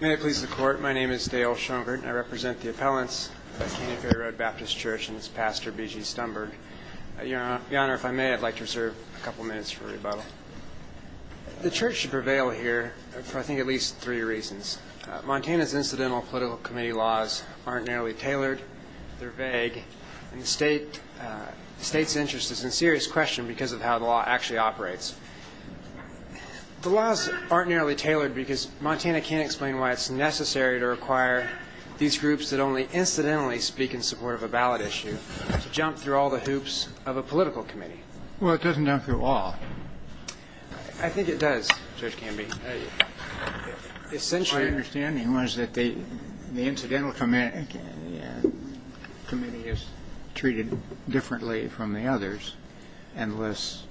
May it please the court, my name is Dale Schoenbert and I represent the appellants at Canyon Ferry Road Baptist Church and its pastor B.G. Stumberg. Your Honor, if I may, I'd like to reserve a couple minutes for rebuttal. The church should prevail here for, I think, at least three reasons. Montana's incidental political committee laws aren't narrowly tailored, they're vague, and the state's interest is in serious question because of how the law actually operates. The laws aren't narrowly tailored because Montana can't explain why it's necessary to require these groups that only incidentally speak in support of a ballot issue to jump through all the hoops of a political committee. Well, it doesn't jump through all. I think it does, Judge Canby. My understanding was that the incidental committee is treated differently from the others in less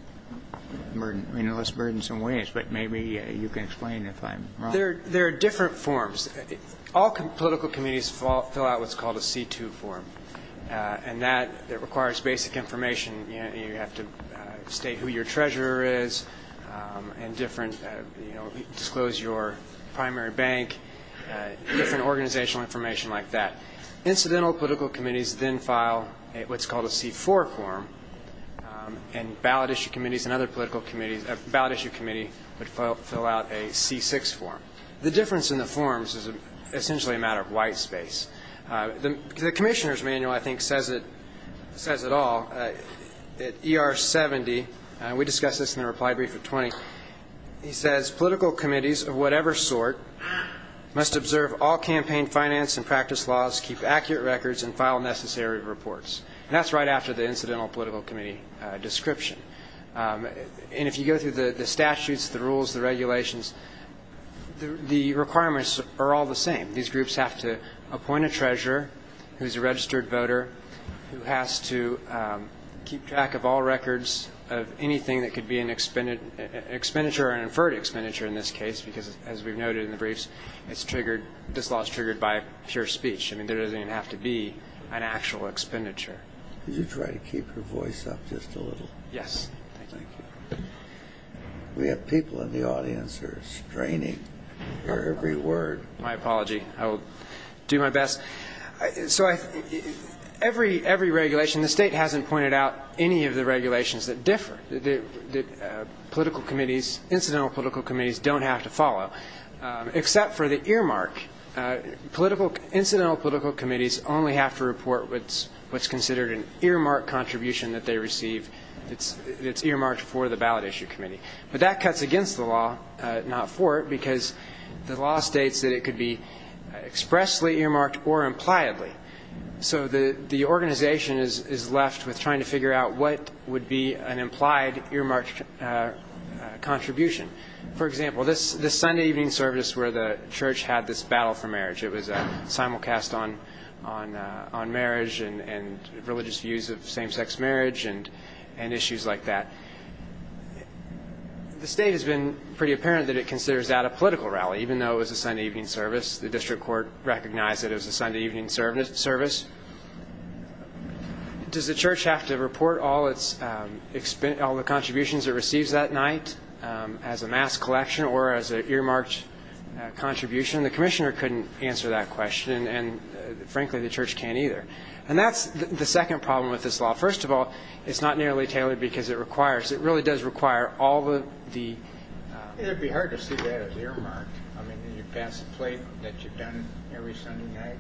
burdensome ways, but maybe you can explain if I'm wrong. There are different forms. All political committees fill out what's called a C2 form, and that requires basic information. You have to state who your treasurer is and disclose your primary bank, different organizational information like that. Incidental political committees then file what's called a C4 form. And ballot issue committees and other political committees, a ballot issue committee would fill out a C6 form. The difference in the forms is essentially a matter of white space. The commissioner's manual, I think, says it all. At ER 70, we discussed this in the reply brief at 20, he says, political committees of whatever sort must observe all campaign finance and practice laws, keep accurate records, and file necessary reports. And that's right after the incidental political committee description. And if you go through the statutes, the rules, the regulations, the requirements are all the same. These groups have to appoint a treasurer who's a registered voter, who has to keep track of all records of anything that could be an expenditure or an inferred expenditure in this case, because as we've noted in the briefs, this law is triggered by pure speech. I mean, there doesn't even have to be an actual expenditure. Did you try to keep your voice up just a little? Yes. Thank you. We have people in the audience who are straining for every word. My apology. I will do my best. So every regulation, the state hasn't pointed out any of the regulations that differ, that political committees, incidental political committees don't have to follow, except for the earmark. Incidental political committees only have to report what's considered an earmark contribution that they receive that's earmarked for the ballot issue committee. But that cuts against the law, not for it, because the law states that it could be expressly earmarked or impliedly. So the organization is left with trying to figure out what would be an implied earmarked contribution. For example, this Sunday evening service where the church had this battle for marriage, it was a simulcast on marriage and religious views of same-sex marriage and issues like that. The state has been pretty apparent that it considers that a political rally, even though it was a Sunday evening service. The district court recognized that it was a Sunday evening service. Does the church have to report all the contributions it receives that night as a mass collection or as an earmarked contribution? The commissioner couldn't answer that question, and frankly, the church can't either. And that's the second problem with this law. First of all, it's not nearly tailored because it requires – it really does require all of the – It would be hard to see that as earmarked. I mean, you pass a plate that you've done every Sunday night.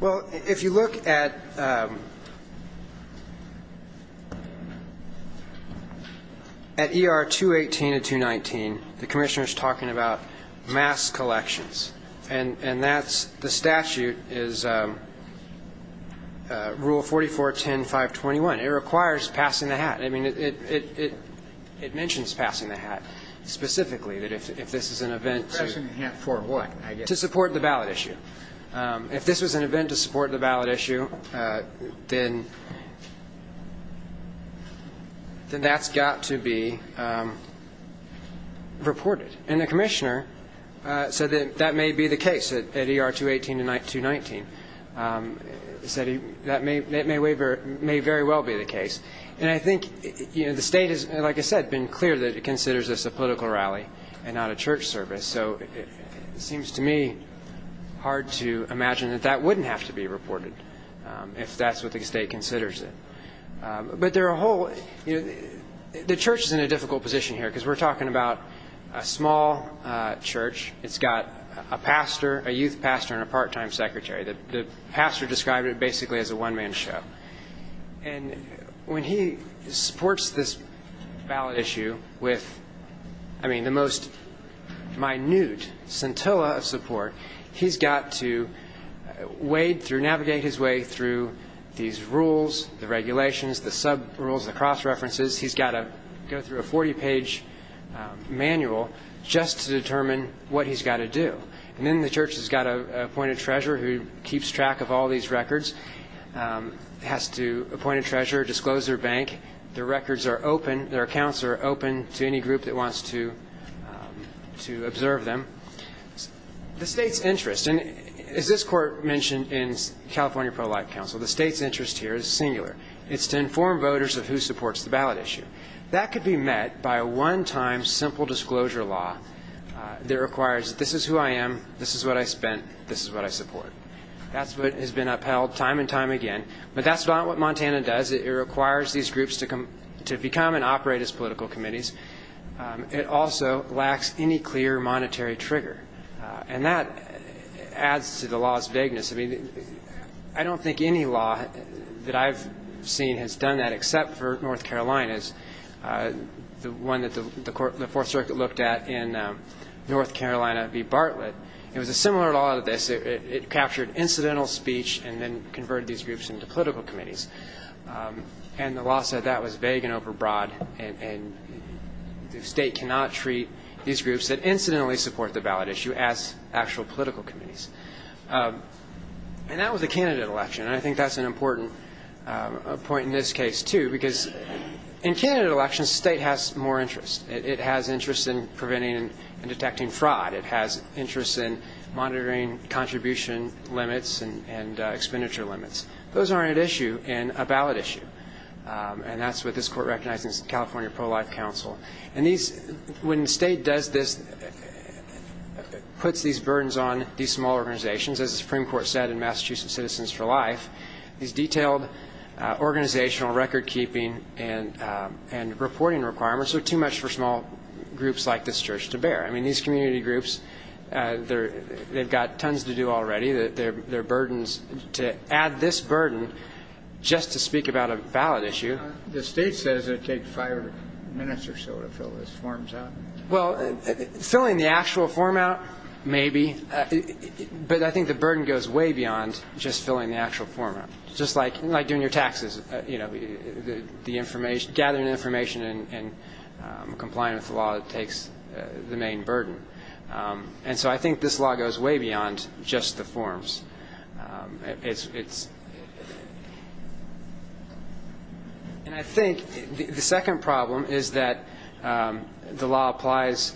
Well, if you look at – at ER 218 and 219, the commissioner is talking about mass collections. And that's – the statute is Rule 44.10.521. It requires passing the hat. I mean, it mentions passing the hat specifically, that if this is an event to – Passing the hat for what, I guess? To support the ballot issue. If this was an event to support the ballot issue, then that's got to be reported. And the commissioner said that that may be the case at ER 218 and 219. He said that may very well be the case. And I think, you know, the state has, like I said, been clear that it considers this a political rally and not a church service. So it seems to me hard to imagine that that wouldn't have to be reported if that's what the state considers it. But there are a whole – you know, the church is in a difficult position here because we're talking about a small church. It's got a pastor, a youth pastor, and a part-time secretary. The pastor described it basically as a one-man show. And when he supports this ballot issue with, I mean, the most minute scintilla of support, he's got to wade through – navigate his way through these rules, the regulations, the sub-rules, the cross-references. He's got to go through a 40-page manual just to determine what he's got to do. And then the church has got an appointed treasurer who keeps track of all these records, has to appoint a treasurer, disclose their bank, their records are open, their accounts are open to any group that wants to observe them. The state's interest – and as this court mentioned in California Pro-Life Council, the state's interest here is singular. It's to inform voters of who supports the ballot issue. That could be met by a one-time simple disclosure law that requires this is who I am, this is what I spent, this is what I support. That's what has been upheld time and time again. But that's not what Montana does. It requires these groups to become and operate as political committees. It also lacks any clear monetary trigger. And that adds to the law's vagueness. I don't think any law that I've seen has done that except for North Carolina's, the one that the Fourth Circuit looked at in North Carolina v. Bartlett. It was a similar law to this. It captured incidental speech and then converted these groups into political committees. And the law said that was vague and overbroad, and the state cannot treat these groups that incidentally support the ballot issue as actual political committees. And that was the candidate election. And I think that's an important point in this case, too. Because in candidate elections, the state has more interest. It has interest in preventing and detecting fraud. It has interest in monitoring contribution limits and expenditure limits. Those aren't at issue in a ballot issue. And that's what this court recognizes in California Pro-Life Council. And when the state does this, puts these burdens on these small organizations, as the Supreme Court said in Massachusetts Citizens for Life, these detailed organizational recordkeeping and reporting requirements are too much for small groups like this church to bear. I mean, these community groups, they've got tons to do already. Their burden is to add this burden just to speak about a ballot issue. The state says it takes five minutes or so to fill these forms out. Well, filling the actual form out, maybe. But I think the burden goes way beyond just filling the actual form out. Just like doing your taxes, gathering information and complying with the law that takes the main burden. And so I think this law goes way beyond just the forms. And I think the second problem is that the law applies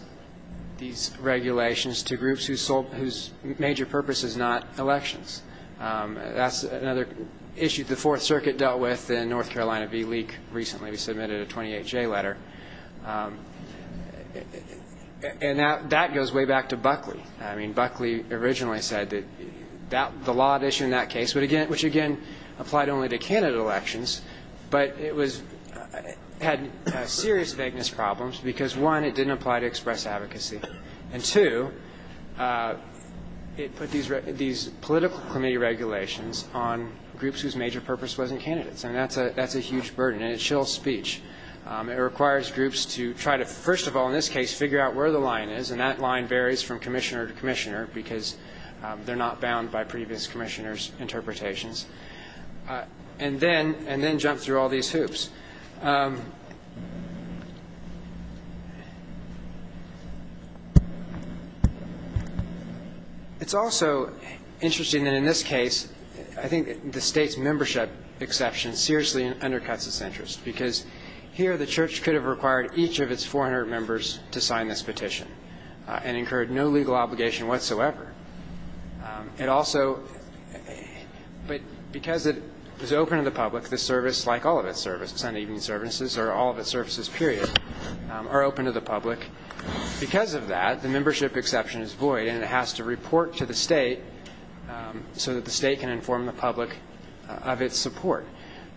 these regulations to groups whose major purpose is not elections. That's another issue the Fourth Circuit dealt with in North Carolina v. Leak recently. We submitted a 28-J letter. And that goes way back to Buckley. I mean, Buckley originally said that the law at issue in that case, which again applied only to Canada elections, but it had serious vagueness problems because, one, it didn't apply to express advocacy. And, two, it put these political committee regulations on groups whose major purpose wasn't candidates. And that's a huge burden, and it chills speech. It requires groups to try to, first of all in this case, figure out where the line is. And that line varies from commissioner to commissioner because they're not bound by previous commissioners' interpretations. And then jump through all these hoops. It's also interesting that in this case, I think the state's membership exception seriously undercuts its interest because here the church could have required each of its 400 members to sign this petition and incurred no legal obligation whatsoever. It also, but because it is open to the public, the service, like all of its services, Sunday evening services, or all of its services, period, are open to the public. Because of that, the membership exception is void, and it has to report to the state so that the state can inform the public of its support.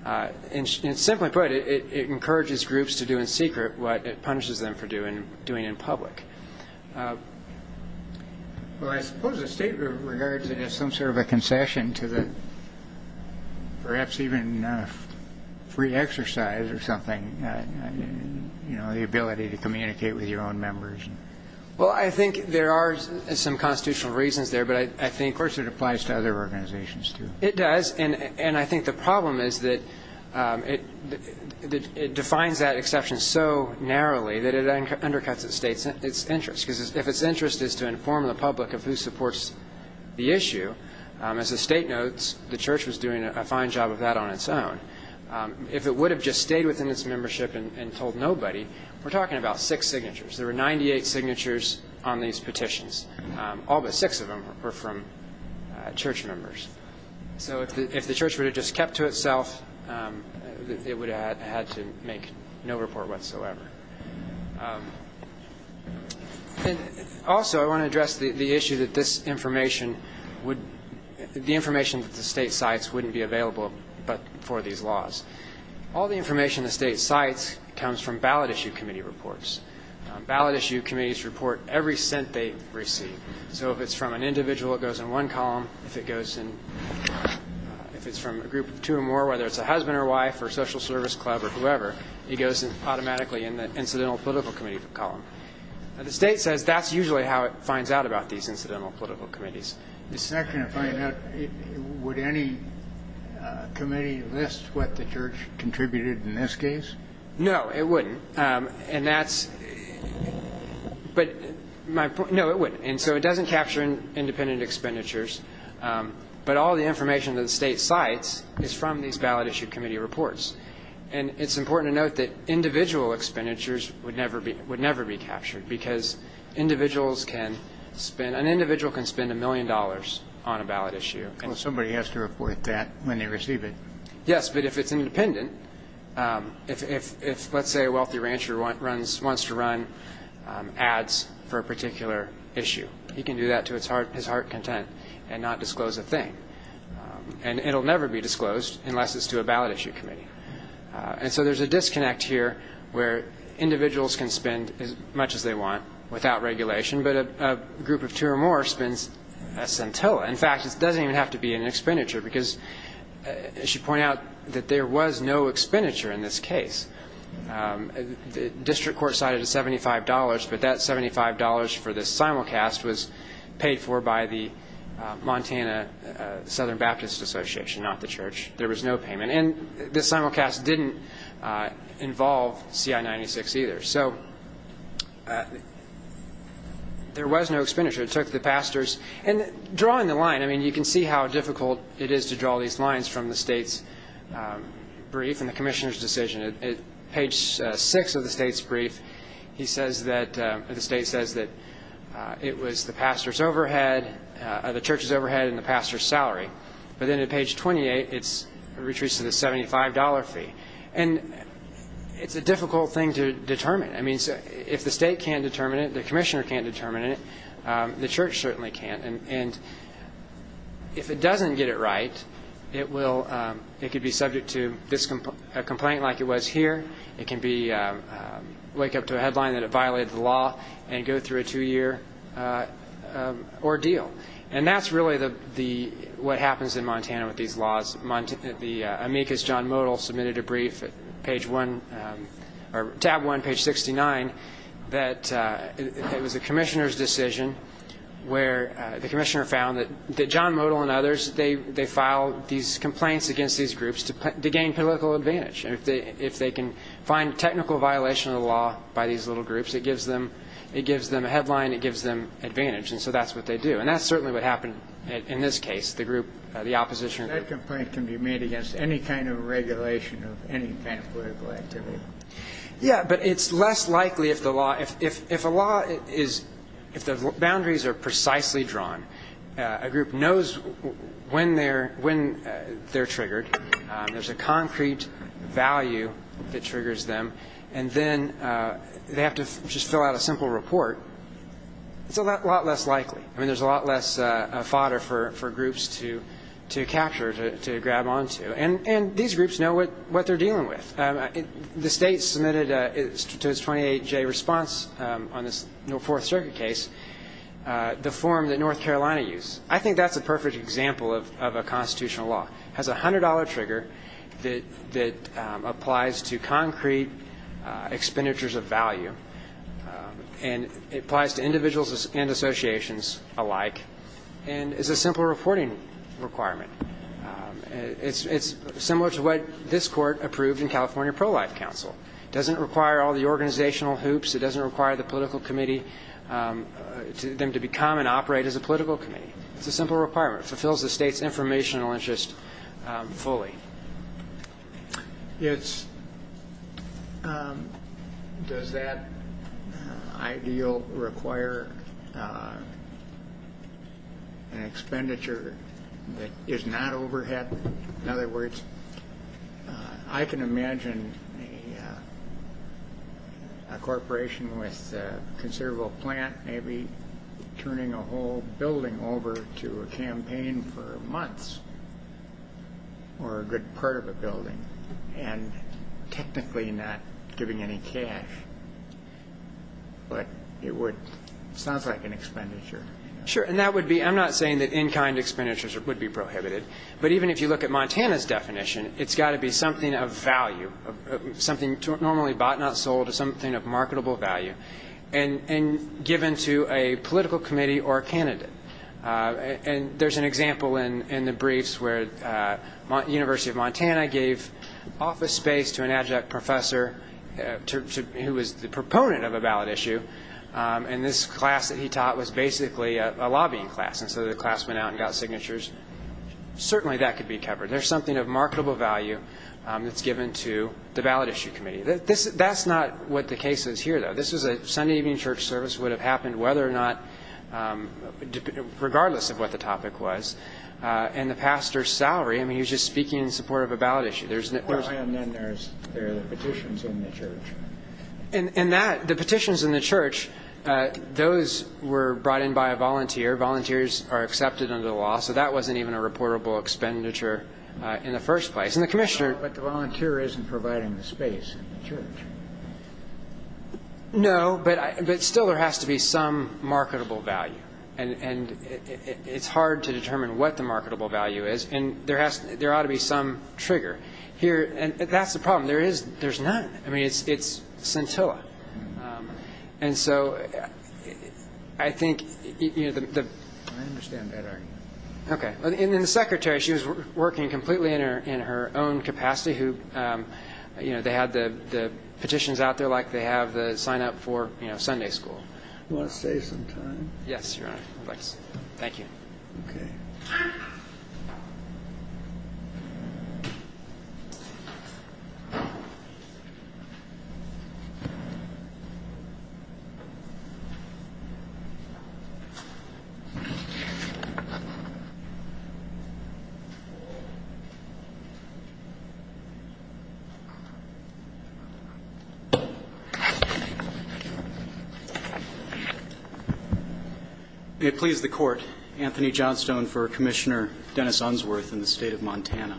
And simply put, it encourages groups to do in secret what it punishes them for doing in public. Well, I suppose the state regards it as some sort of a concession to the, perhaps even free exercise or something, you know, the ability to communicate with your own members. Well, I think there are some constitutional reasons there, but I think... Of course it applies to other organizations, too. It does, and I think the problem is that it defines that exception so narrowly that it undercuts the state. Because if its interest is to inform the public of who supports the issue, as the state notes, the church was doing a fine job of that on its own. If it would have just stayed within its membership and told nobody, we're talking about six signatures. There were 98 signatures on these petitions. All but six of them were from church members. So if the church would have just kept to itself, it would have had to make no report whatsoever. Also, I want to address the issue that this information would... The information that the state cites wouldn't be available but for these laws. All the information the state cites comes from ballot issue committee reports. Ballot issue committees report every cent they receive. So if it's from an individual, it goes in one column. If it goes in... If it's from a group of two or more, whether it's a husband or wife or social service club or whoever, it goes automatically in the incidental political committee column. The state says that's usually how it finds out about these incidental political committees. Second, if I had known... Would any committee list what the church contributed in this case? No, it wouldn't. And that's... But... No, it wouldn't. And so it doesn't capture independent expenditures. But all the information that the state cites is from these ballot issue committee reports. And it's important to note that individual expenditures would never be captured because individuals can spend... An individual can spend a million dollars on a ballot issue. Well, somebody has to report that when they receive it. Yes, but if it's independent... If, let's say, a wealthy rancher wants to run ads for a particular issue, he can do that to his heart's content and not disclose a thing. And it'll never be disclosed unless it's to a ballot issue committee. And so there's a disconnect here where individuals can spend as much as they want without regulation, but a group of two or more spends a centilla. In fact, it doesn't even have to be an expenditure because, as you point out, that there was no expenditure in this case. The district court cited a $75, but that $75 for this simulcast was paid for by the Montana Southern Baptist Association, not the church. There was no payment. And this simulcast didn't involve CI-96 either. So there was no expenditure. It took the pastors... And drawing the line, I mean, you can see how difficult it is to draw these lines from the state's brief and the commissioner's decision. At page 6 of the state's brief, he says that... the church's overhead and the pastor's salary. But then at page 28, it retreats to the $75 fee. And it's a difficult thing to determine. I mean, if the state can't determine it, the commissioner can't determine it, the church certainly can't. And if it doesn't get it right, it could be subject to a complaint like it was here. It can wake up to a headline that it violated the law and go through a two-year ordeal. And that's really what happens in Montana with these laws. The amicus John Modell submitted a brief at tab 1, page 69, that it was the commissioner's decision where the commissioner found that John Modell and others, they filed these complaints against these groups to gain political advantage. If they can find technical violation of the law by these little groups, it gives them a headline, it gives them advantage. And so that's what they do. And that's certainly what happened in this case. The group, the opposition group... That complaint can be made against any kind of regulation of any kind of political activity. Yeah, but it's less likely if the law, if a law is, if the boundaries are precisely drawn, a group knows when they're triggered. There's a concrete value that triggers them. And then they have to just fill out a simple report. It's a lot less likely. I mean, there's a lot less fodder for groups to capture, to grab onto. And these groups know what they're dealing with. The state submitted to its 28-J response on this Fourth Circuit case the form that North Carolina used. I think that's a perfect example of a constitutional law. It has a $100 trigger that applies to concrete expenditures of value. And it applies to individuals and associations alike. And it's a simple reporting requirement. It's similar to what this Court approved in California Pro-Life Council. It doesn't require all the organizational hoops. It doesn't require the political committee, them to become and operate as a political committee. It's a simple requirement. It fulfills the state's informational interest fully. Does that ideal require an expenditure that is not overhead? In other words, I can imagine a corporation with a considerable plant maybe turning a whole building over to a campaign for months or a good part of a building and technically not giving any cash. But it sounds like an expenditure. Sure, and I'm not saying that in-kind expenditures would be prohibited. But even if you look at Montana's definition, it's got to be something of value, something normally bought, not sold, something of marketable value. And given to a political committee or a candidate. And there's an example in the briefs where University of Montana gave office space to an adjunct professor who was the proponent of a ballot issue. And this class that he taught was basically a lobbying class. And so the class went out and got signatures. Certainly that could be covered. There's something of marketable value that's given to the ballot issue committee. That's not what the case is here, though. This is a Sunday evening church service. It would have happened whether or not, regardless of what the topic was. And the pastor's salary, I mean, he was just speaking in support of a ballot issue. And then there are the petitions in the church. And the petitions in the church, those were brought in by a volunteer. Volunteers are accepted under the law. So that wasn't even a reportable expenditure in the first place. But the volunteer isn't providing the space in the church. No, but still there has to be some marketable value. And it's hard to determine what the marketable value is. And there ought to be some trigger here. And that's the problem. There's none. I mean, it's scintilla. And so I think the ‑‑ I understand that argument. Okay. In the secretary, she was working completely in her own capacity. They had the petitions out there like they have the sign up for Sunday school. Do you want to save some time? Yes, Your Honor. Thank you. Okay. May it please the court, Anthony Johnstone for Commissioner Dennis Unsworth in the state of Montana.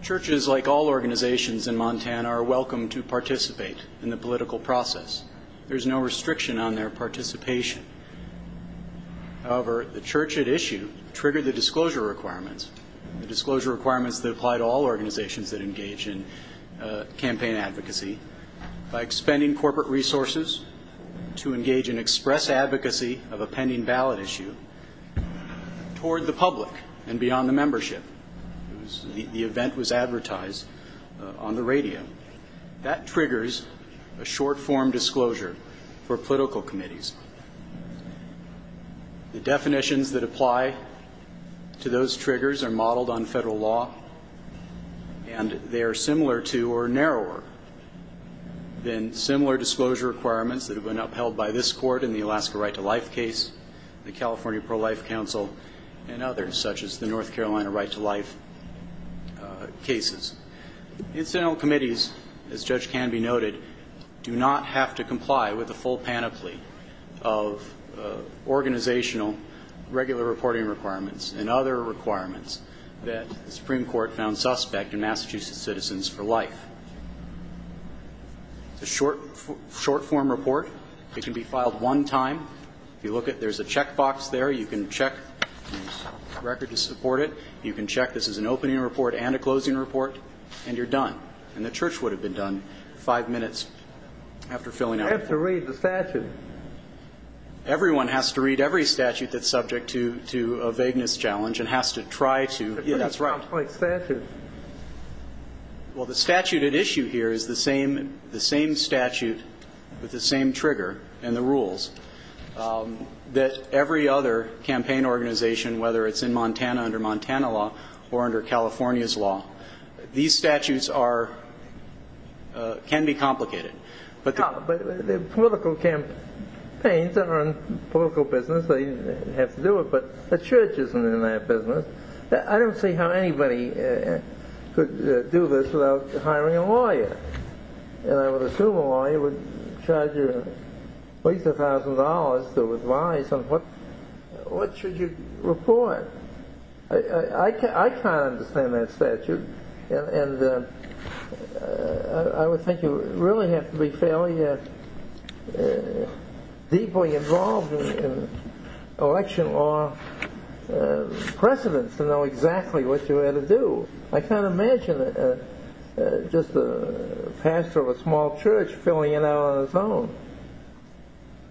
Churches, like all organizations in Montana, are welcome to participate in the political process. There's no restriction on their participation. However, the church at issue triggered the disclosure requirements, the disclosure requirements that apply to all organizations that engage in campaign advocacy, by expending corporate resources to engage in express advocacy of a pending ballot issue toward the public and beyond the membership. The event was advertised on the radio. That triggers a short form disclosure for political committees. The definitions that apply to those triggers are modeled on federal law, and they are similar to or narrower than similar disclosure requirements that have been upheld by this court in the Alaska Right to Life case, the California Pro-Life Council, and others such as the North Carolina Right to Life cases. Incidental committees, as Judge Canby noted, do not have to comply with the full panoply of organizational regular reporting requirements and other requirements that the Supreme Court found suspect in Massachusetts Citizens for Life. The short form report, it can be filed one time. If you look at it, there's a check box there. You can check the record to support it. You can check this is an opening report and a closing report, and you're done. And the church would have been done five minutes after filling out. You have to read the statute. Everyone has to read every statute that's subject to a vagueness challenge and has to try to. Yeah, that's right. It's a pretty complex statute. Well, the statute at issue here is the same statute with the same trigger and the rules that every other campaign organization, whether it's in Montana under Montana law or under California's law, these statutes can be complicated. But the political campaigns that are in political business, they have to do it. But the church isn't in that business. I don't see how anybody could do this without hiring a lawyer. And I would assume a lawyer would charge you at least $1,000 to advise on what should you report. I can't understand that statute. And I would think you really have to be fairly deeply involved in election law precedence to know exactly what you had to do. I can't imagine just a pastor of a small church filling it out on his own.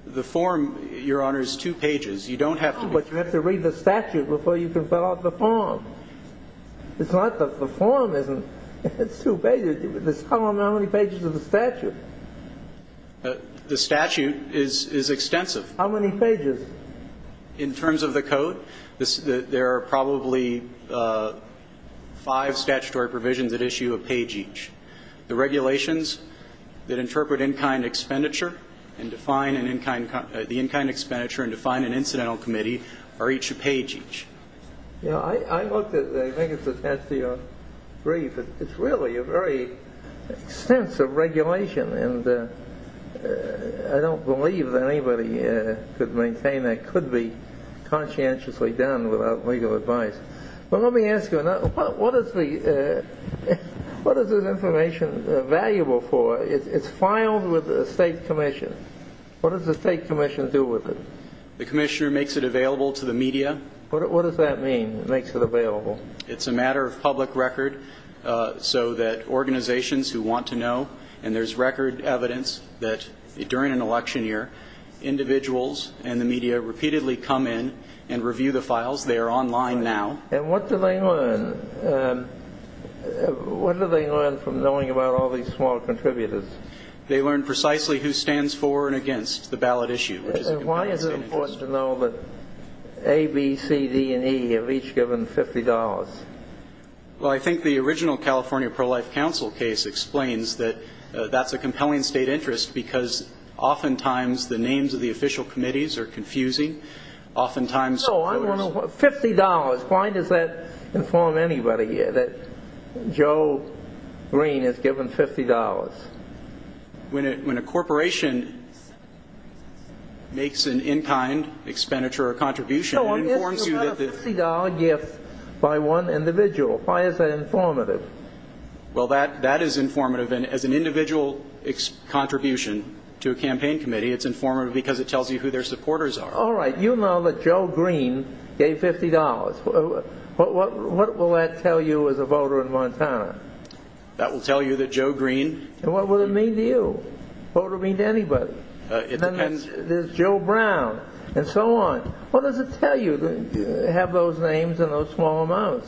The form, Your Honor, is two pages. But you have to read the statute before you can fill out the form. The form isn't two pages. How many pages is the statute? The statute is extensive. How many pages? In terms of the code, there are probably five statutory provisions that issue a page each. The regulations that interpret in-kind expenditure and define an in-kind expenditure and define an incidental committee are each a page each. I looked at it. I think it's attached to your brief. It's really a very extensive regulation. I don't believe that anybody could maintain that could be conscientiously done without legal advice. But let me ask you, what is this information valuable for? It's filed with the state commission. What does the state commission do with it? The commissioner makes it available to the media. What does that mean, makes it available? It's a matter of public record so that organizations who want to know, and there's record evidence that during an election year, individuals and the media repeatedly come in and review the files. They are online now. And what do they learn? What do they learn from knowing about all these small contributors? They learn precisely who stands for and against the ballot issue. Why is it important to know that A, B, C, D, and E have each given $50? Well, I think the original California Pro-Life Council case explains that that's a compelling state interest because oftentimes the names of the official committees are confusing. No, $50. Why does that inform anybody that Joe Green has given $50? It's a $50 gift by one individual. Why is that informative? Well, that is informative. And as an individual contribution to a campaign committee, it's informative because it tells you who their supporters are. All right, you know that Joe Green gave $50. What will that tell you as a voter in Montana? That will tell you that Joe Green And what will it mean to you, what will it mean to anybody? It depends. There's Joe Brown and so on. What does it tell you to have those names and those small amounts?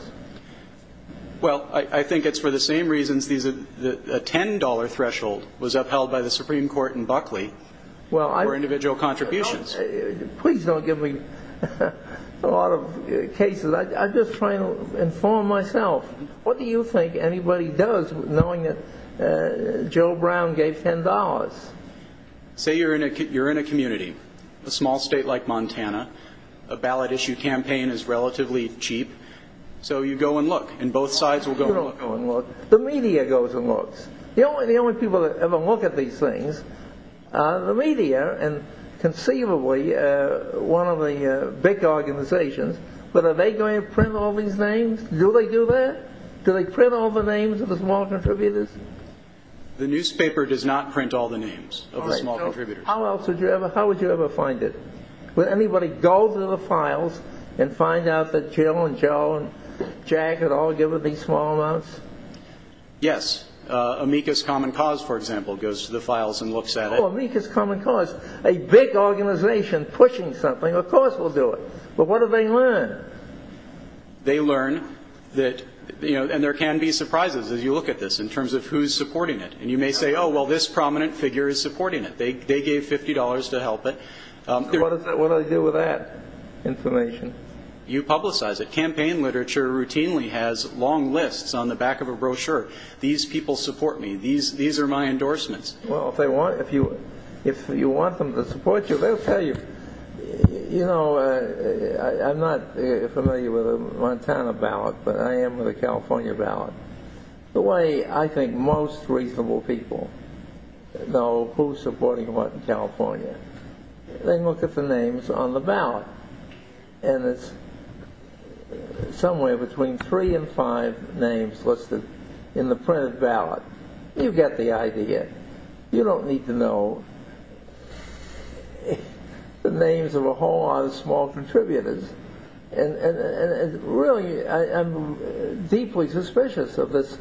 Well, I think it's for the same reasons a $10 threshold was upheld by the Supreme Court in Buckley for individual contributions. Please don't give me a lot of cases. I'm just trying to inform myself. What do you think anybody does knowing that Joe Brown gave $10? Say you're in a community, a small state like Montana, a ballot issue campaign is relatively cheap, so you go and look, and both sides will go and look. You don't go and look. The media goes and looks. The only people that ever look at these things are the media and conceivably one of the big organizations. But are they going to print all these names? Do they do that? Do they print all the names of the small contributors? The newspaper does not print all the names of the small contributors. How else would you ever find it? Would anybody go to the files and find out that Jill and Joe and Jack had all given these small amounts? Yes. Amicus Common Cause, for example, goes to the files and looks at it. Oh, Amicus Common Cause, a big organization pushing something, of course will do it. But what do they learn? They learn that, you know, and there can be surprises as you look at this in terms of who's supporting it. And you may say, oh, well, this prominent figure is supporting it. They gave $50 to help it. What do I do with that information? You publicize it. Campaign literature routinely has long lists on the back of a brochure. These people support me. These are my endorsements. Well, if you want them to support you, they'll tell you. You know, I'm not familiar with a Montana ballot, but I am with a California ballot. The way I think most reasonable people know who's supporting what in California, they look at the names on the ballot, and it's somewhere between three and five names listed in the printed ballot. You get the idea. You don't need to know the names of a whole lot of small contributors. Really, I'm deeply suspicious of this,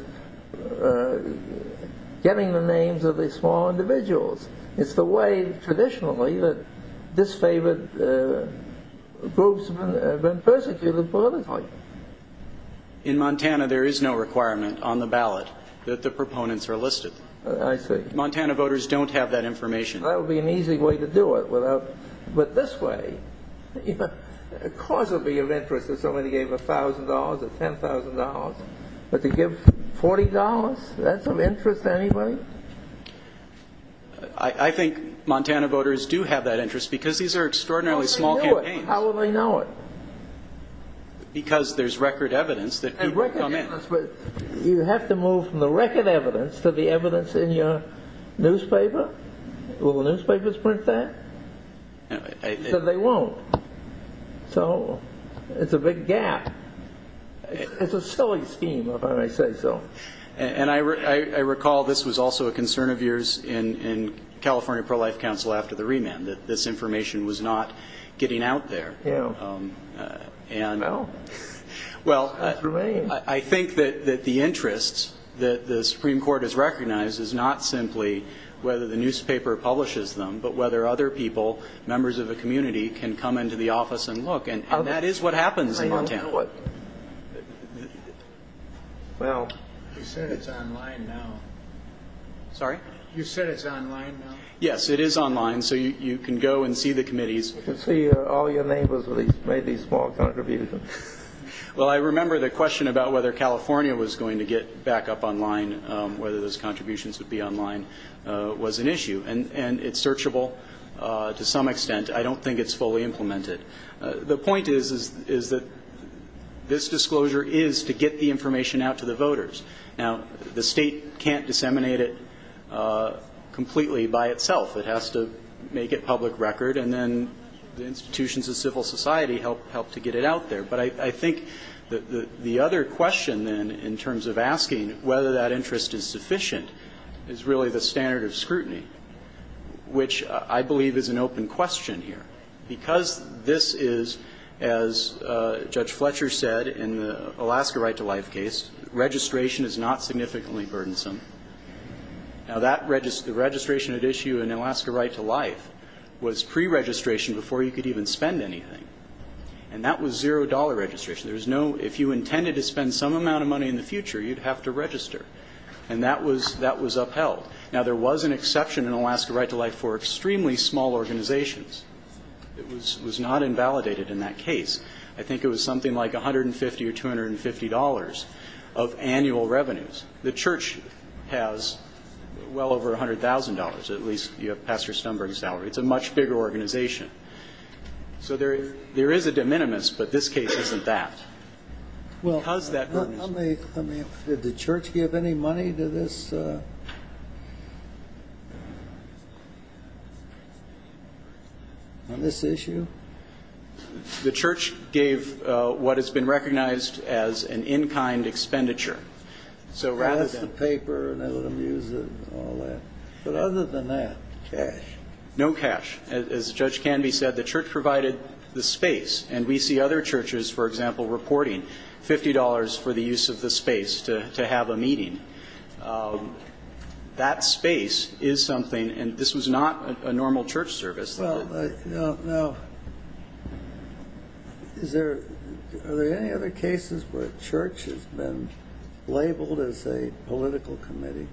getting the names of these small individuals. It's the way, traditionally, that disfavored groups have been persecuted politically. In Montana, there is no requirement on the ballot that the proponents are listed. I see. Montana voters don't have that information. That would be an easy way to do it, but this way, of course it would be of interest if somebody gave $1,000 or $10,000, but to give $40, that's of interest to anybody? I think Montana voters do have that interest, because these are extraordinarily small campaigns. How will they know it? Because there's record evidence that people come in. You have to move from the record evidence to the evidence in your newspaper. Will the newspapers print that? They won't. It's a big gap. It's a silly scheme, if I may say so. I recall this was also a concern of yours in California Pro-Life Council after the remand, that this information was not getting out there. I think that the interest that the Supreme Court has recognized is not simply whether the newspaper publishes them, but whether other people, members of the community, can come into the office and look, and that is what happens in Montana. Well, you said it's online now. Sorry? You said it's online now? Yes, it is online, so you can go and see the committees. You can see all your neighbors made these small contributions. Well, I remember the question about whether California was going to get back up online, whether those contributions would be online, was an issue, and it's searchable to some extent. I don't think it's fully implemented. The point is that this disclosure is to get the information out to the voters. Now, the State can't disseminate it completely by itself. It has to make it public record, and then the institutions of civil society help to get it out there. But I think the other question then in terms of asking whether that interest is sufficient is really the standard of scrutiny, which I believe is an open question here. Because this is, as Judge Fletcher said in the Alaska Right to Life case, registration is not significantly burdensome. Now, the registration at issue in Alaska Right to Life was preregistration before you could even spend anything, and that was zero-dollar registration. If you intended to spend some amount of money in the future, you'd have to register, and that was upheld. Now, there was an exception in Alaska Right to Life for extremely small organizations. It was not invalidated in that case. I think it was something like $150 or $250 of annual revenues. The church has well over $100,000. At least you have Pastor Stumberg's salary. It's a much bigger organization. So there is a de minimis, but this case isn't that. Because that burden is... Did the church give any money to this issue? The church gave what has been recognized as an in-kind expenditure. So rather than... That's the paper and all that. But other than that, cash. No cash. As Judge Canby said, the church provided the space, and we see other churches, for example, reporting $50 for the use of the space to have a meeting. That space is something, and this was not a normal church service. Well, now, are there any other cases where a church has been labeled as a political committee?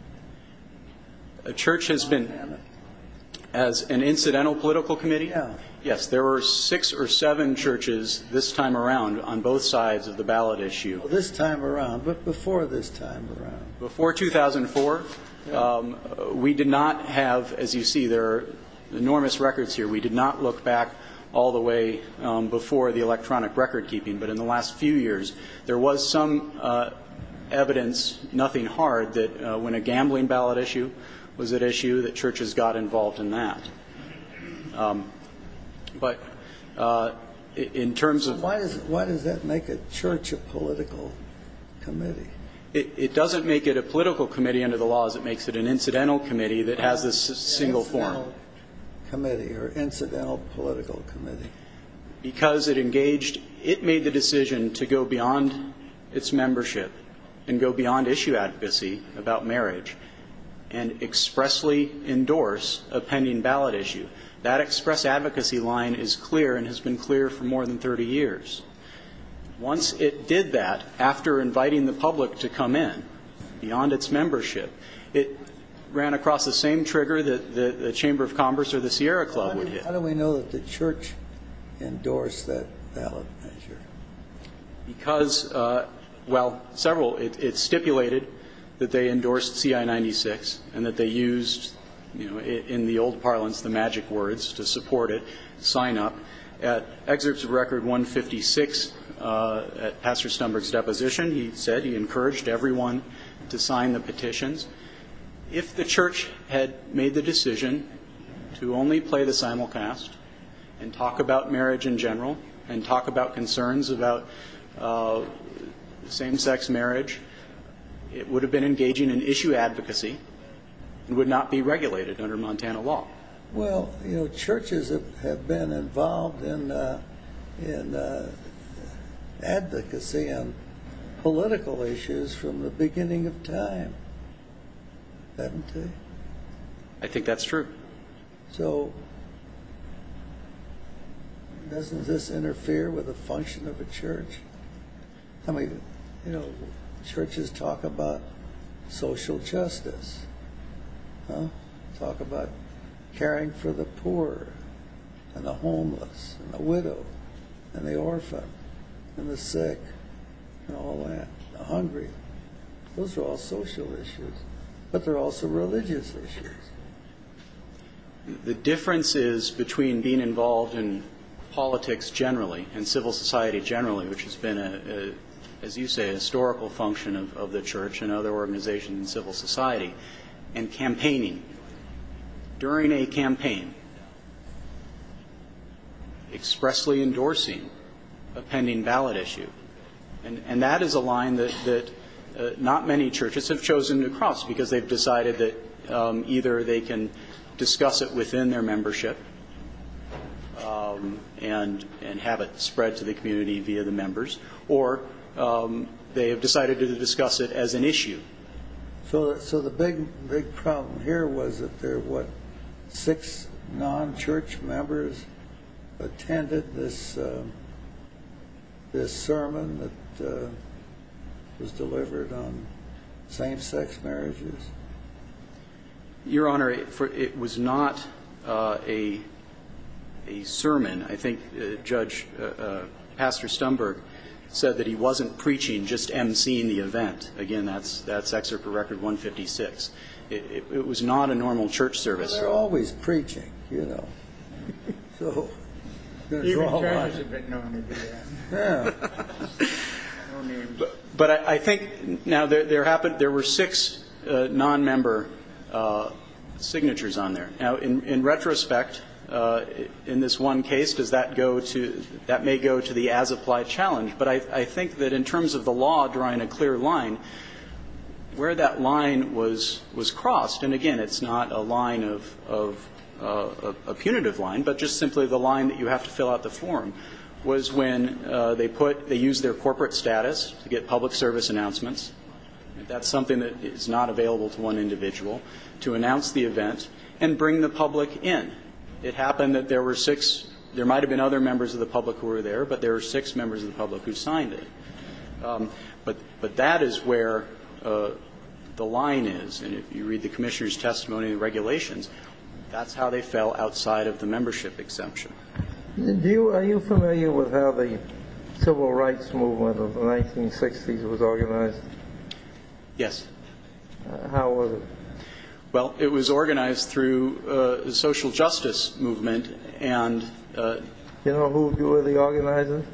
A church has been as an incidental political committee? Yes. Yes, there were six or seven churches this time around on both sides of the ballot issue. This time around, but before this time around. Before 2004. We did not have, as you see, there are enormous records here. We did not look back all the way before the electronic record keeping. But in the last few years, there was some evidence, nothing hard, that when a gambling ballot issue was at issue, that churches got involved in that. But in terms of... So why does that make a church a political committee? It doesn't make it a political committee under the laws. It makes it an incidental committee that has this single form. Incidental committee or incidental political committee. Because it engaged, it made the decision to go beyond its membership and go beyond issue advocacy about marriage and expressly endorse a pending ballot issue. That express advocacy line is clear and has been clear for more than 30 years. Once it did that, after inviting the public to come in, beyond its membership, it ran across the same trigger that the Chamber of Commerce or the Sierra Club would hit. How do we know that the church endorsed that ballot measure? Because, well, several, it stipulated that they endorsed C.I. 96 and that they used, in the old parlance, the magic words to support it, sign up. At Excerpts of Record 156, at Pastor Stumberg's deposition, he said he encouraged everyone to sign the petitions. If the church had made the decision to only play the simulcast and talk about marriage in general and talk about concerns about same-sex marriage, it would have been engaging in issue advocacy and would not be regulated under Montana law. Well, you know, churches have been involved in advocacy on political issues from the beginning of time, haven't they? I think that's true. So doesn't this interfere with the function of a church? I mean, you know, churches talk about social justice. Talk about caring for the poor and the homeless and the widowed and the orphaned and the sick and all that, the hungry. Those are all social issues, but they're also religious issues. The differences between being involved in politics generally and civil society generally, which has been, as you say, a historical function of the church and other organizations in civil society, and campaigning during a campaign, expressly endorsing a pending ballot issue, and that is a line that not many churches have chosen to cross because they've decided that either they can discuss it via the members or they have decided to discuss it as an issue. So the big problem here was that there were, what, six non-church members attended this sermon that was delivered on same-sex marriages? Your Honor, it was not a sermon. I think Judge Pastor Stumberg said that he wasn't preaching, just emceeing the event. Again, that's Excerpt for Record 156. It was not a normal church service. Well, they're always preaching, you know, so there's a whole lot. He returns a bit normally to that. But I think, now, there were six non-member signatures on there. Now, in retrospect, in this one case, does that go to the as-applied challenge? But I think that in terms of the law drawing a clear line, where that line was crossed, and, again, it's not a line of a punitive line, but just simply the line that you have to fill out the form was when they used their corporate status to get public service announcements. That's something that is not available to one individual, to announce the event and bring the public in. It happened that there were six. There might have been other members of the public who were there, but there were six members of the public who signed it. But that is where the line is. And if you read the commissioner's testimony in the regulations, that's how they fell outside of the membership exemption. Are you familiar with how the Civil Rights Movement of the 1960s was organized? Yes. How was it? Well, it was organized through the social justice movement. Do you know who were the organizers?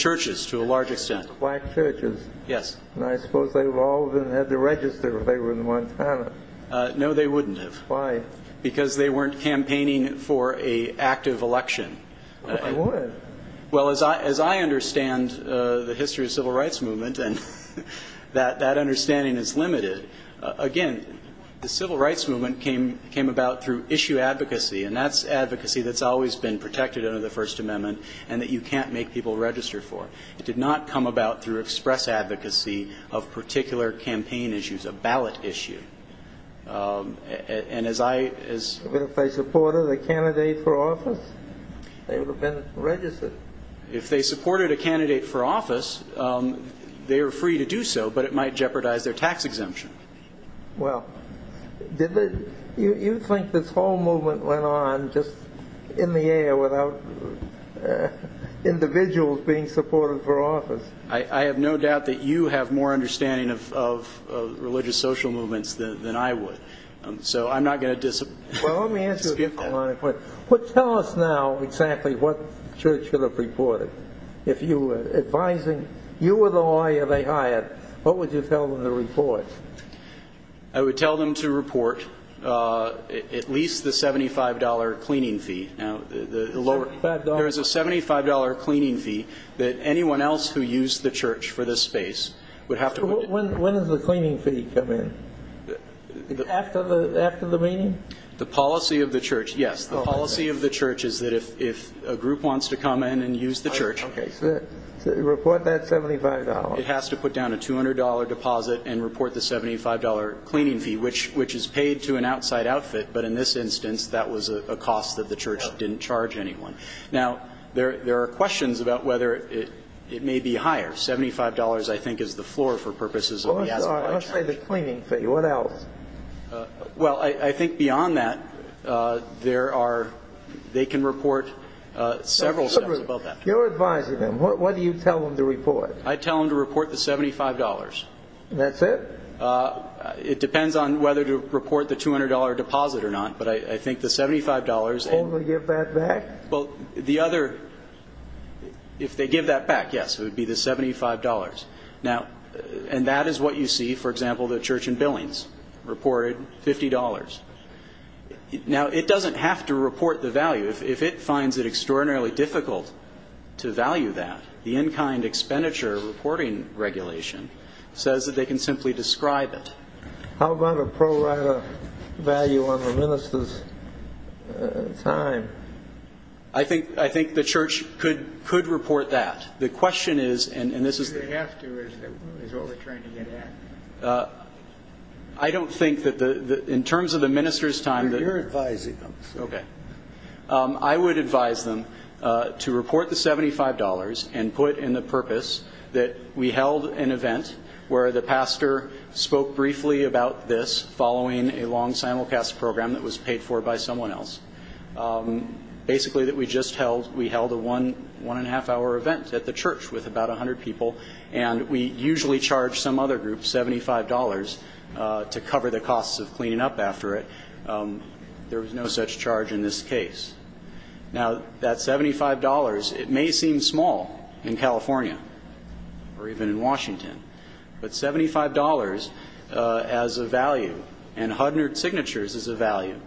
Churches, to a large extent. Black churches. Yes. And I suppose they all would have had to register if they were in Montana. No, they wouldn't have. Why? Because they weren't campaigning for an active election. They would. Well, as I understand the history of the Civil Rights Movement, and that understanding is limited, again, the Civil Rights Movement came about through issue advocacy, and that's advocacy that's always been protected under the First Amendment and that you can't make people register for. It did not come about through express advocacy of particular campaign issues, a ballot issue. But if they supported a candidate for office, they would have been registered. If they supported a candidate for office, they were free to do so, but it might jeopardize their tax exemption. Well, you think this whole movement went on just in the air without individuals being supported for office? I have no doubt that you have more understanding of religious social movements than I would. So I'm not going to dispute that. Well, let me ask you a question. Tell us now exactly what the church should have reported. If you were advising, you were the lawyer they hired, what would you tell them to report? I would tell them to report at least the $75 cleaning fee. There is a $75 cleaning fee that anyone else who used the church for this space would have to. When does the cleaning fee come in? After the meeting? The policy of the church, yes. The policy of the church is that if a group wants to come in and use the church. Okay. Report that $75. It has to put down a $200 deposit and report the $75 cleaning fee, which is paid to an outside outfit, but in this instance that was a cost that the church didn't charge anyone. Now, there are questions about whether it may be higher. $75, I think, is the floor for purposes of the aside charge. Let's say the cleaning fee. What else? Well, I think beyond that there are they can report several steps about that. You're advising them. What do you tell them to report? I tell them to report the $75. That's it? It depends on whether to report the $200 deposit or not, but I think the $75. Will they give that back? Well, the other, if they give that back, yes, it would be the $75. And that is what you see, for example, the church in Billings reported, $50. Now, it doesn't have to report the value. If it finds it extraordinarily difficult to value that, the in-kind expenditure reporting regulation says that they can simply describe it. How about a pro rata value on the minister's time? I think the church could report that. The question is, and this is the- Do they have to? Is that what they're trying to get at? I don't think that in terms of the minister's time- You're advising them. Okay. I would advise them to report the $75 and put in the purpose that we held an event where the pastor spoke briefly about this following a long simulcast program that was paid for by someone else. Basically that we just held a one and a half hour event at the church with about 100 people and we usually charge some other group $75 to cover the costs of cleaning up after it. There was no such charge in this case. Now, that $75, it may seem small in California or even in Washington, but $75 as a value and 100 signatures as a value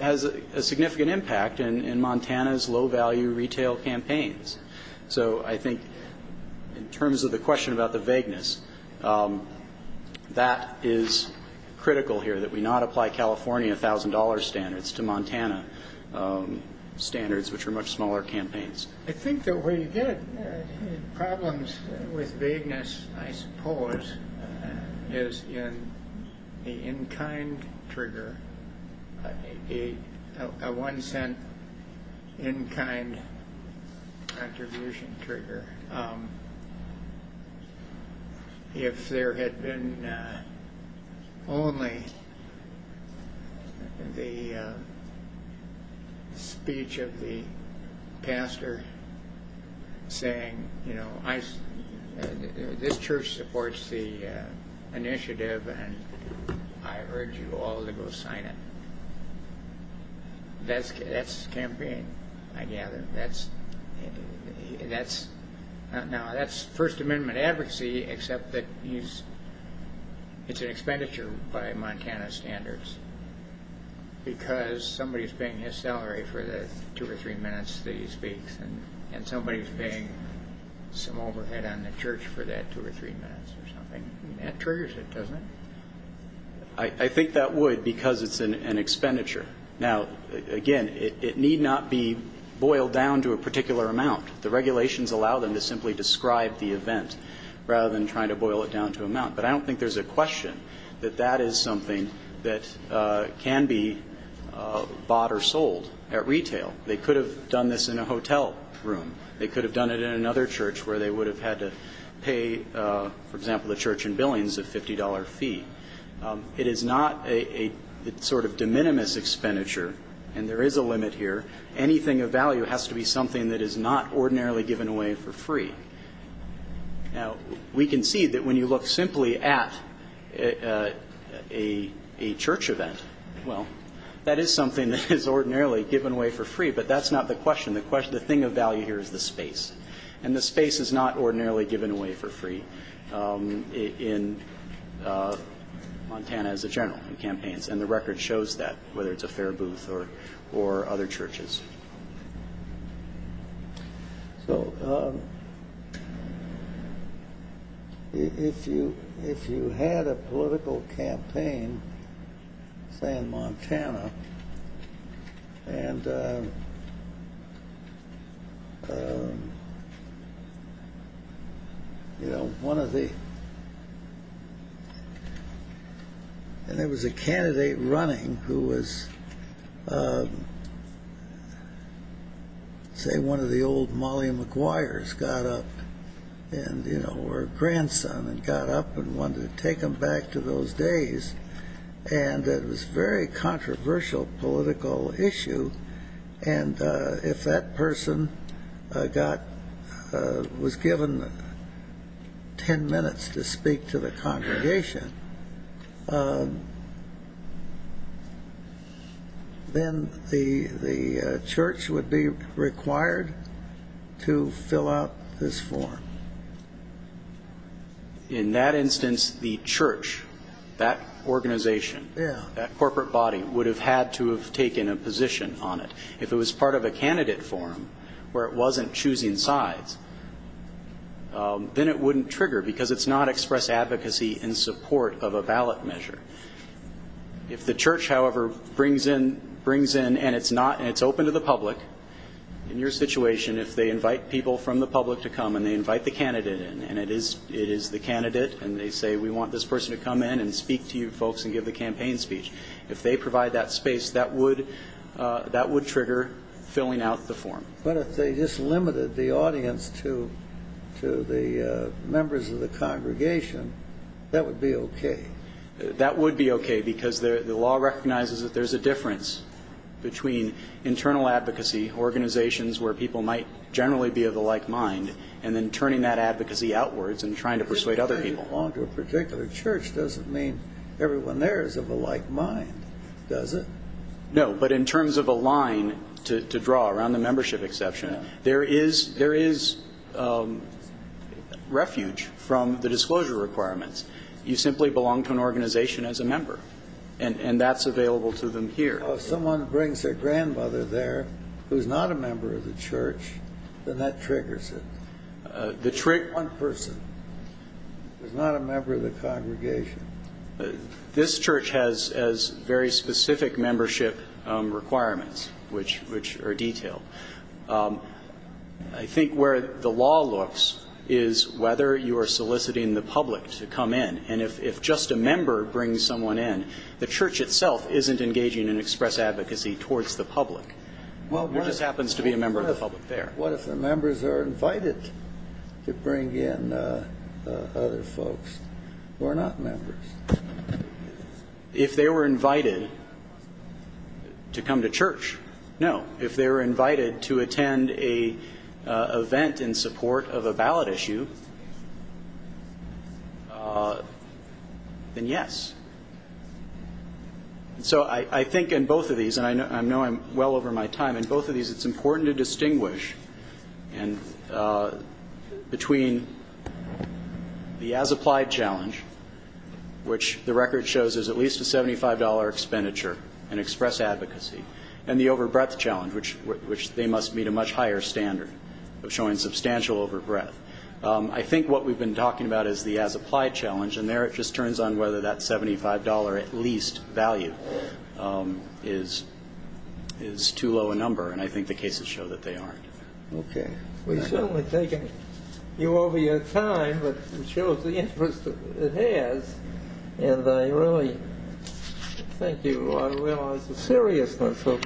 has a significant impact in Montana's low value retail campaigns. So I think in terms of the question about the vagueness, that is critical here that we not apply California $1,000 standards to Montana standards, which are much smaller campaigns. I think the way you get problems with vagueness, I suppose, is in the in-kind trigger, a one-cent in-kind contribution trigger. If there had been only the speech of the pastor saying, you know, this church supports the initiative and I urge you all to go sign it, that's campaign, I gather. That's First Amendment advocacy except that it's an expenditure by Montana standards because somebody is paying his salary for the two or three minutes that he speaks and somebody is paying some overhead on the church for that two or three minutes or something. That triggers it, doesn't it? I think that would because it's an expenditure. Now, again, it need not be boiled down to a particular amount. The regulations allow them to simply describe the event rather than trying to boil it down to amount. But I don't think there's a question that that is something that can be bought or sold at retail. They could have done this in a hotel room. They could have done it in another church where they would have had to pay, for example, the church in Billings a $50 fee. It is not a sort of de minimis expenditure, and there is a limit here. Anything of value has to be something that is not ordinarily given away for free. Now, we can see that when you look simply at a church event, well, that is something that is ordinarily given away for free, but that's not the question. The thing of value here is the space, and the space is not ordinarily given away for free. In Montana, as a general, in campaigns, and the record shows that, whether it's a fair booth or other churches. Q. So if you had a political campaign, say, in Montana, and, you know, one of the And there was a candidate running who was, say, one of the old Molly Maguires got up, and, you know, her grandson got up and wanted to take him back to those days, and it was a very controversial political issue, and if that person was given ten minutes to speak to the congregation, then the church would be required to fill out this form. In that instance, the church, that organization, that corporate body, would have had to have taken a position on it. If it was part of a candidate forum where it wasn't choosing sides, then it wouldn't trigger because it's not express advocacy in support of a ballot measure. If the church, however, brings in, and it's open to the public, in your situation, if they invite people from the public to come and they invite the candidate in, and it is the candidate, and they say, we want this person to come in and speak to you folks and give the campaign speech, if they provide that space, that would trigger filling out the form. But if they just limited the audience to the members of the congregation, that would be okay. That would be okay because the law recognizes that there's a difference between internal advocacy, organizations where people might generally be of the like mind, and then turning that advocacy outwards and trying to persuade other people. If they belong to a particular church, doesn't mean everyone there is of a like mind, does it? No, but in terms of a line to draw around the membership exception, there is refuge from the disclosure requirements. You simply belong to an organization as a member, and that's available to them here. Well, if someone brings their grandmother there who's not a member of the church, then that triggers it. The trick. One person who's not a member of the congregation. This church has very specific membership requirements which are detailed. I think where the law looks is whether you are soliciting the public to come in, and if just a member brings someone in, the church itself isn't engaging in express advocacy towards the public. There just happens to be a member of the public there. What if the members are invited to bring in other folks who are not members? If they were invited to come to church, no. If they were invited to attend an event in support of a ballot issue, then yes. So I think in both of these, and I know I'm well over my time, in both of these it's important to distinguish between the as-applied challenge, which the record shows is at least a $75 expenditure in express advocacy, and the over-breadth challenge, which they must meet a much higher standard of showing substantial over-breadth. I think what we've been talking about is the as-applied challenge, and there it just turns on whether that $75 at least value is too low a number, and I think the cases show that they aren't. We've certainly taken you over your time, but it shows the interest it has, and I really think you ought to realize the seriousness of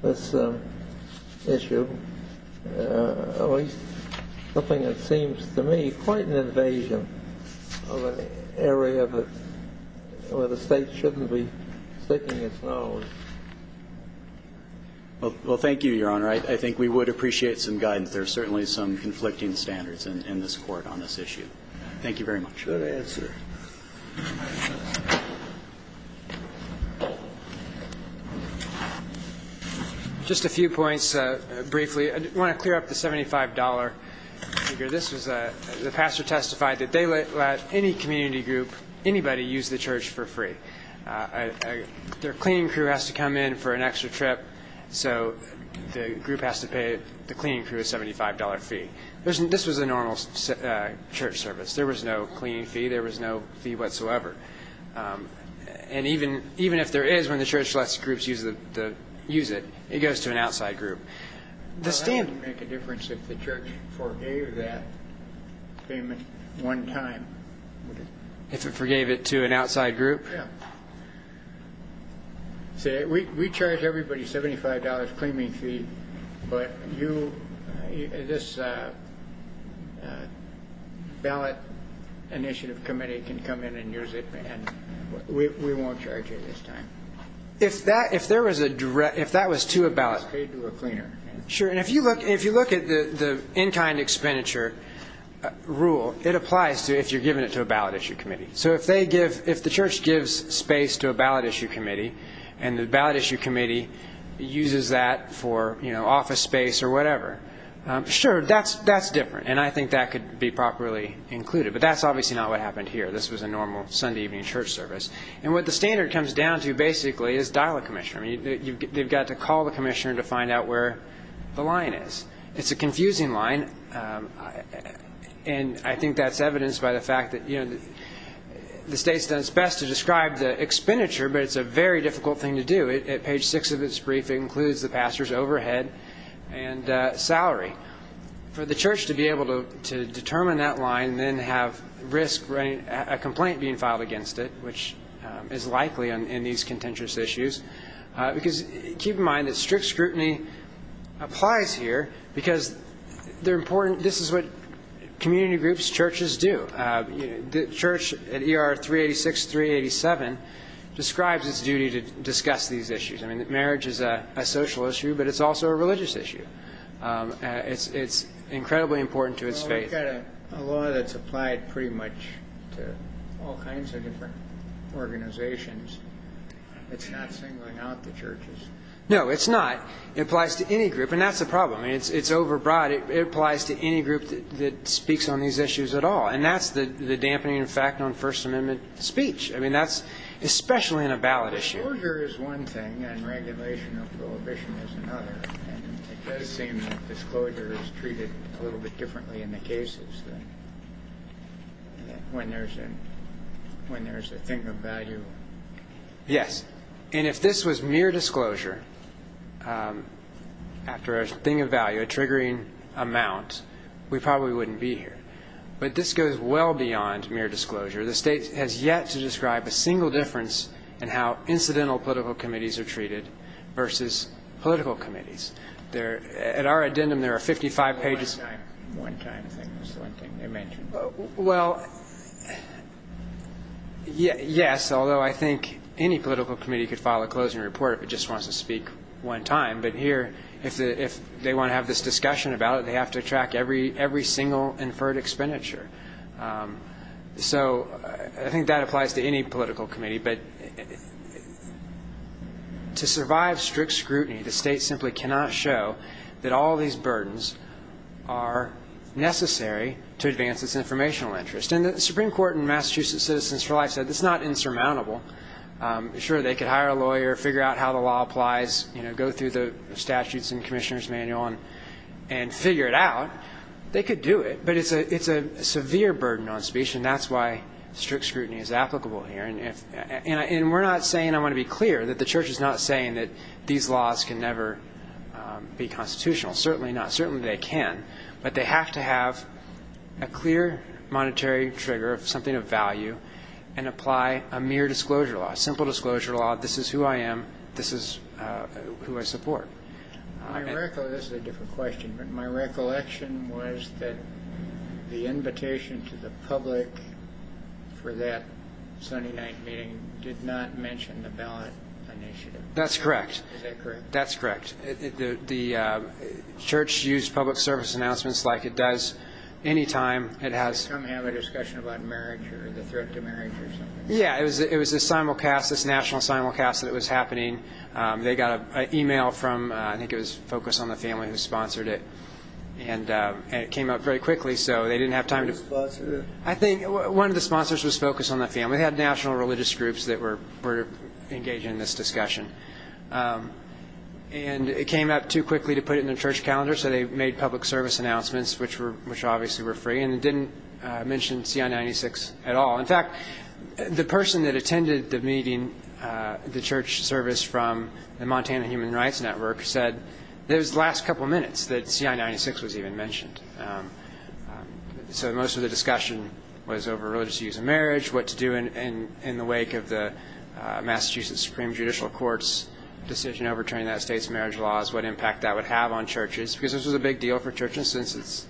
this issue, at least something that seems to me quite an invasion of an area where the state shouldn't be sticking its nose. Well, thank you, Your Honor. I think we would appreciate some guidance. There are certainly some conflicting standards in this court on this issue. Thank you very much. Good answer. Just a few points briefly. I want to clear up the $75 figure. The pastor testified that they let any community group, anybody, use the church for free. Their cleaning crew has to come in for an extra trip, so the group has to pay the cleaning crew a $75 fee. This was a normal church service. There was no cleaning fee. There was no fee whatsoever. And even if there is, when the church lets groups use it, it goes to an outside group. Well, that wouldn't make a difference if the church forgave that payment one time. If it forgave it to an outside group? Yeah. See, we charge everybody $75 cleaning fee, but you, this ballot initiative committee can come in and use it, and we won't charge you this time. If that was to a ballot? It's paid to a cleaner. Sure, and if you look at the in-kind expenditure rule, it applies if you're giving it to a ballot issue committee. So if the church gives space to a ballot issue committee, and the ballot issue committee uses that for office space or whatever, sure, that's different, and I think that could be properly included. But that's obviously not what happened here. This was a normal Sunday evening church service. And what the standard comes down to, basically, is dial a commissioner. They've got to call the commissioner to find out where the line is. It's a confusing line, and I think that's evidenced by the fact that the state's done its best to describe the expenditure, but it's a very difficult thing to do. At page 6 of its brief, it includes the pastor's overhead and salary. For the church to be able to determine that line and then have a complaint being filed against it, which is likely in these contentious issues, because keep in mind that strict scrutiny applies here because they're important. This is what community groups, churches do. The church at ER 386, 387 describes its duty to discuss these issues. I mean, marriage is a social issue, but it's also a religious issue. It's incredibly important to its faith. Well, we've got a law that's applied pretty much to all kinds of different organizations. It's not singling out the churches. No, it's not. It applies to any group, and that's the problem. It's overbroad. It applies to any group that speaks on these issues at all, and that's the dampening of fact on First Amendment speech. I mean, that's especially in a ballot issue. Disclosure is one thing, and regulation of prohibition is another. It does seem that disclosure is treated a little bit differently in the cases than when there's a thing of value. Yes, and if this was mere disclosure after a thing of value, a triggering amount, we probably wouldn't be here. But this goes well beyond mere disclosure. The state has yet to describe a single difference in how incidental political committees are treated versus political committees. At our addendum, there are 55 pages. One-time thing is the one thing they mentioned. Well, yes, although I think any political committee could file a closing report if it just wants to speak one time. But here, if they want to have this discussion about it, they have to track every single inferred expenditure. So I think that applies to any political committee. But to survive strict scrutiny, the state simply cannot show that all these burdens are necessary to advance its informational interest. And the Supreme Court in Massachusetts Citizens for Life said it's not insurmountable. Sure, they could hire a lawyer, figure out how the law applies, go through the statutes and commissioner's manual and figure it out. They could do it. But it's a severe burden on speech, and that's why strict scrutiny is applicable here. And we're not saying, I want to be clear, that the Church is not saying that these laws can never be constitutional. Certainly not. Certainly they can. But they have to have a clear monetary trigger of something of value and apply a mere disclosure law, a simple disclosure law. This is who I am. This is who I support. This is a different question, but my recollection was that the invitation to the public for that Sunday night meeting did not mention the ballot initiative. That's correct. Is that correct? That's correct. The Church used public service announcements like it does any time. Did they come have a discussion about marriage or the threat to marriage or something? Yeah, it was this national simulcast that was happening. They got an e-mail from, I think it was Focus on the Family, who sponsored it. And it came up very quickly, so they didn't have time to. Who sponsored it? I think one of the sponsors was Focus on the Family. They had national religious groups that were engaged in this discussion. And it came up too quickly to put it in the Church calendar, so they made public service announcements, which obviously were free. And it didn't mention CI-96 at all. In fact, the person that attended the meeting, the Church service from the Montana Human Rights Network, said it was the last couple of minutes that CI-96 was even mentioned. So most of the discussion was over religious use of marriage, what to do in the wake of the Massachusetts Supreme Judicial Court's decision overturning that state's marriage laws, what impact that would have on churches, because this was a big deal for churches, since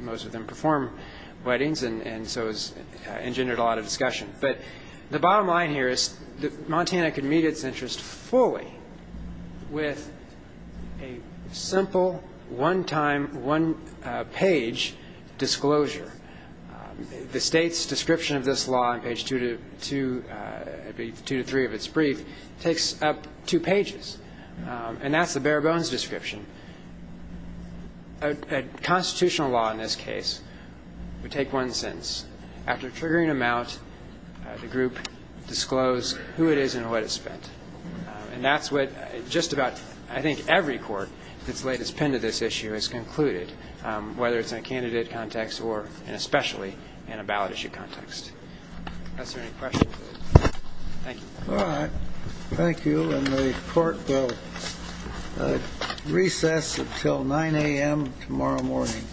most of them perform weddings, and so it engendered a lot of discussion. But the bottom line here is Montana could meet its interest fully with a simple, one-time, one-page disclosure. The state's description of this law on page two to three of its brief takes up two pages, and that's the bare-bones description. A constitutional law in this case would take one sentence. After triggering a mount, the group disclosed who it is and what it spent. And that's what just about, I think, every court that's laid its pen to this issue has concluded, whether it's in a candidate context or especially in a ballot issue context. Professor, any questions? Thank you. All right. Thank you. And the court will recess until 9 a.m. tomorrow morning.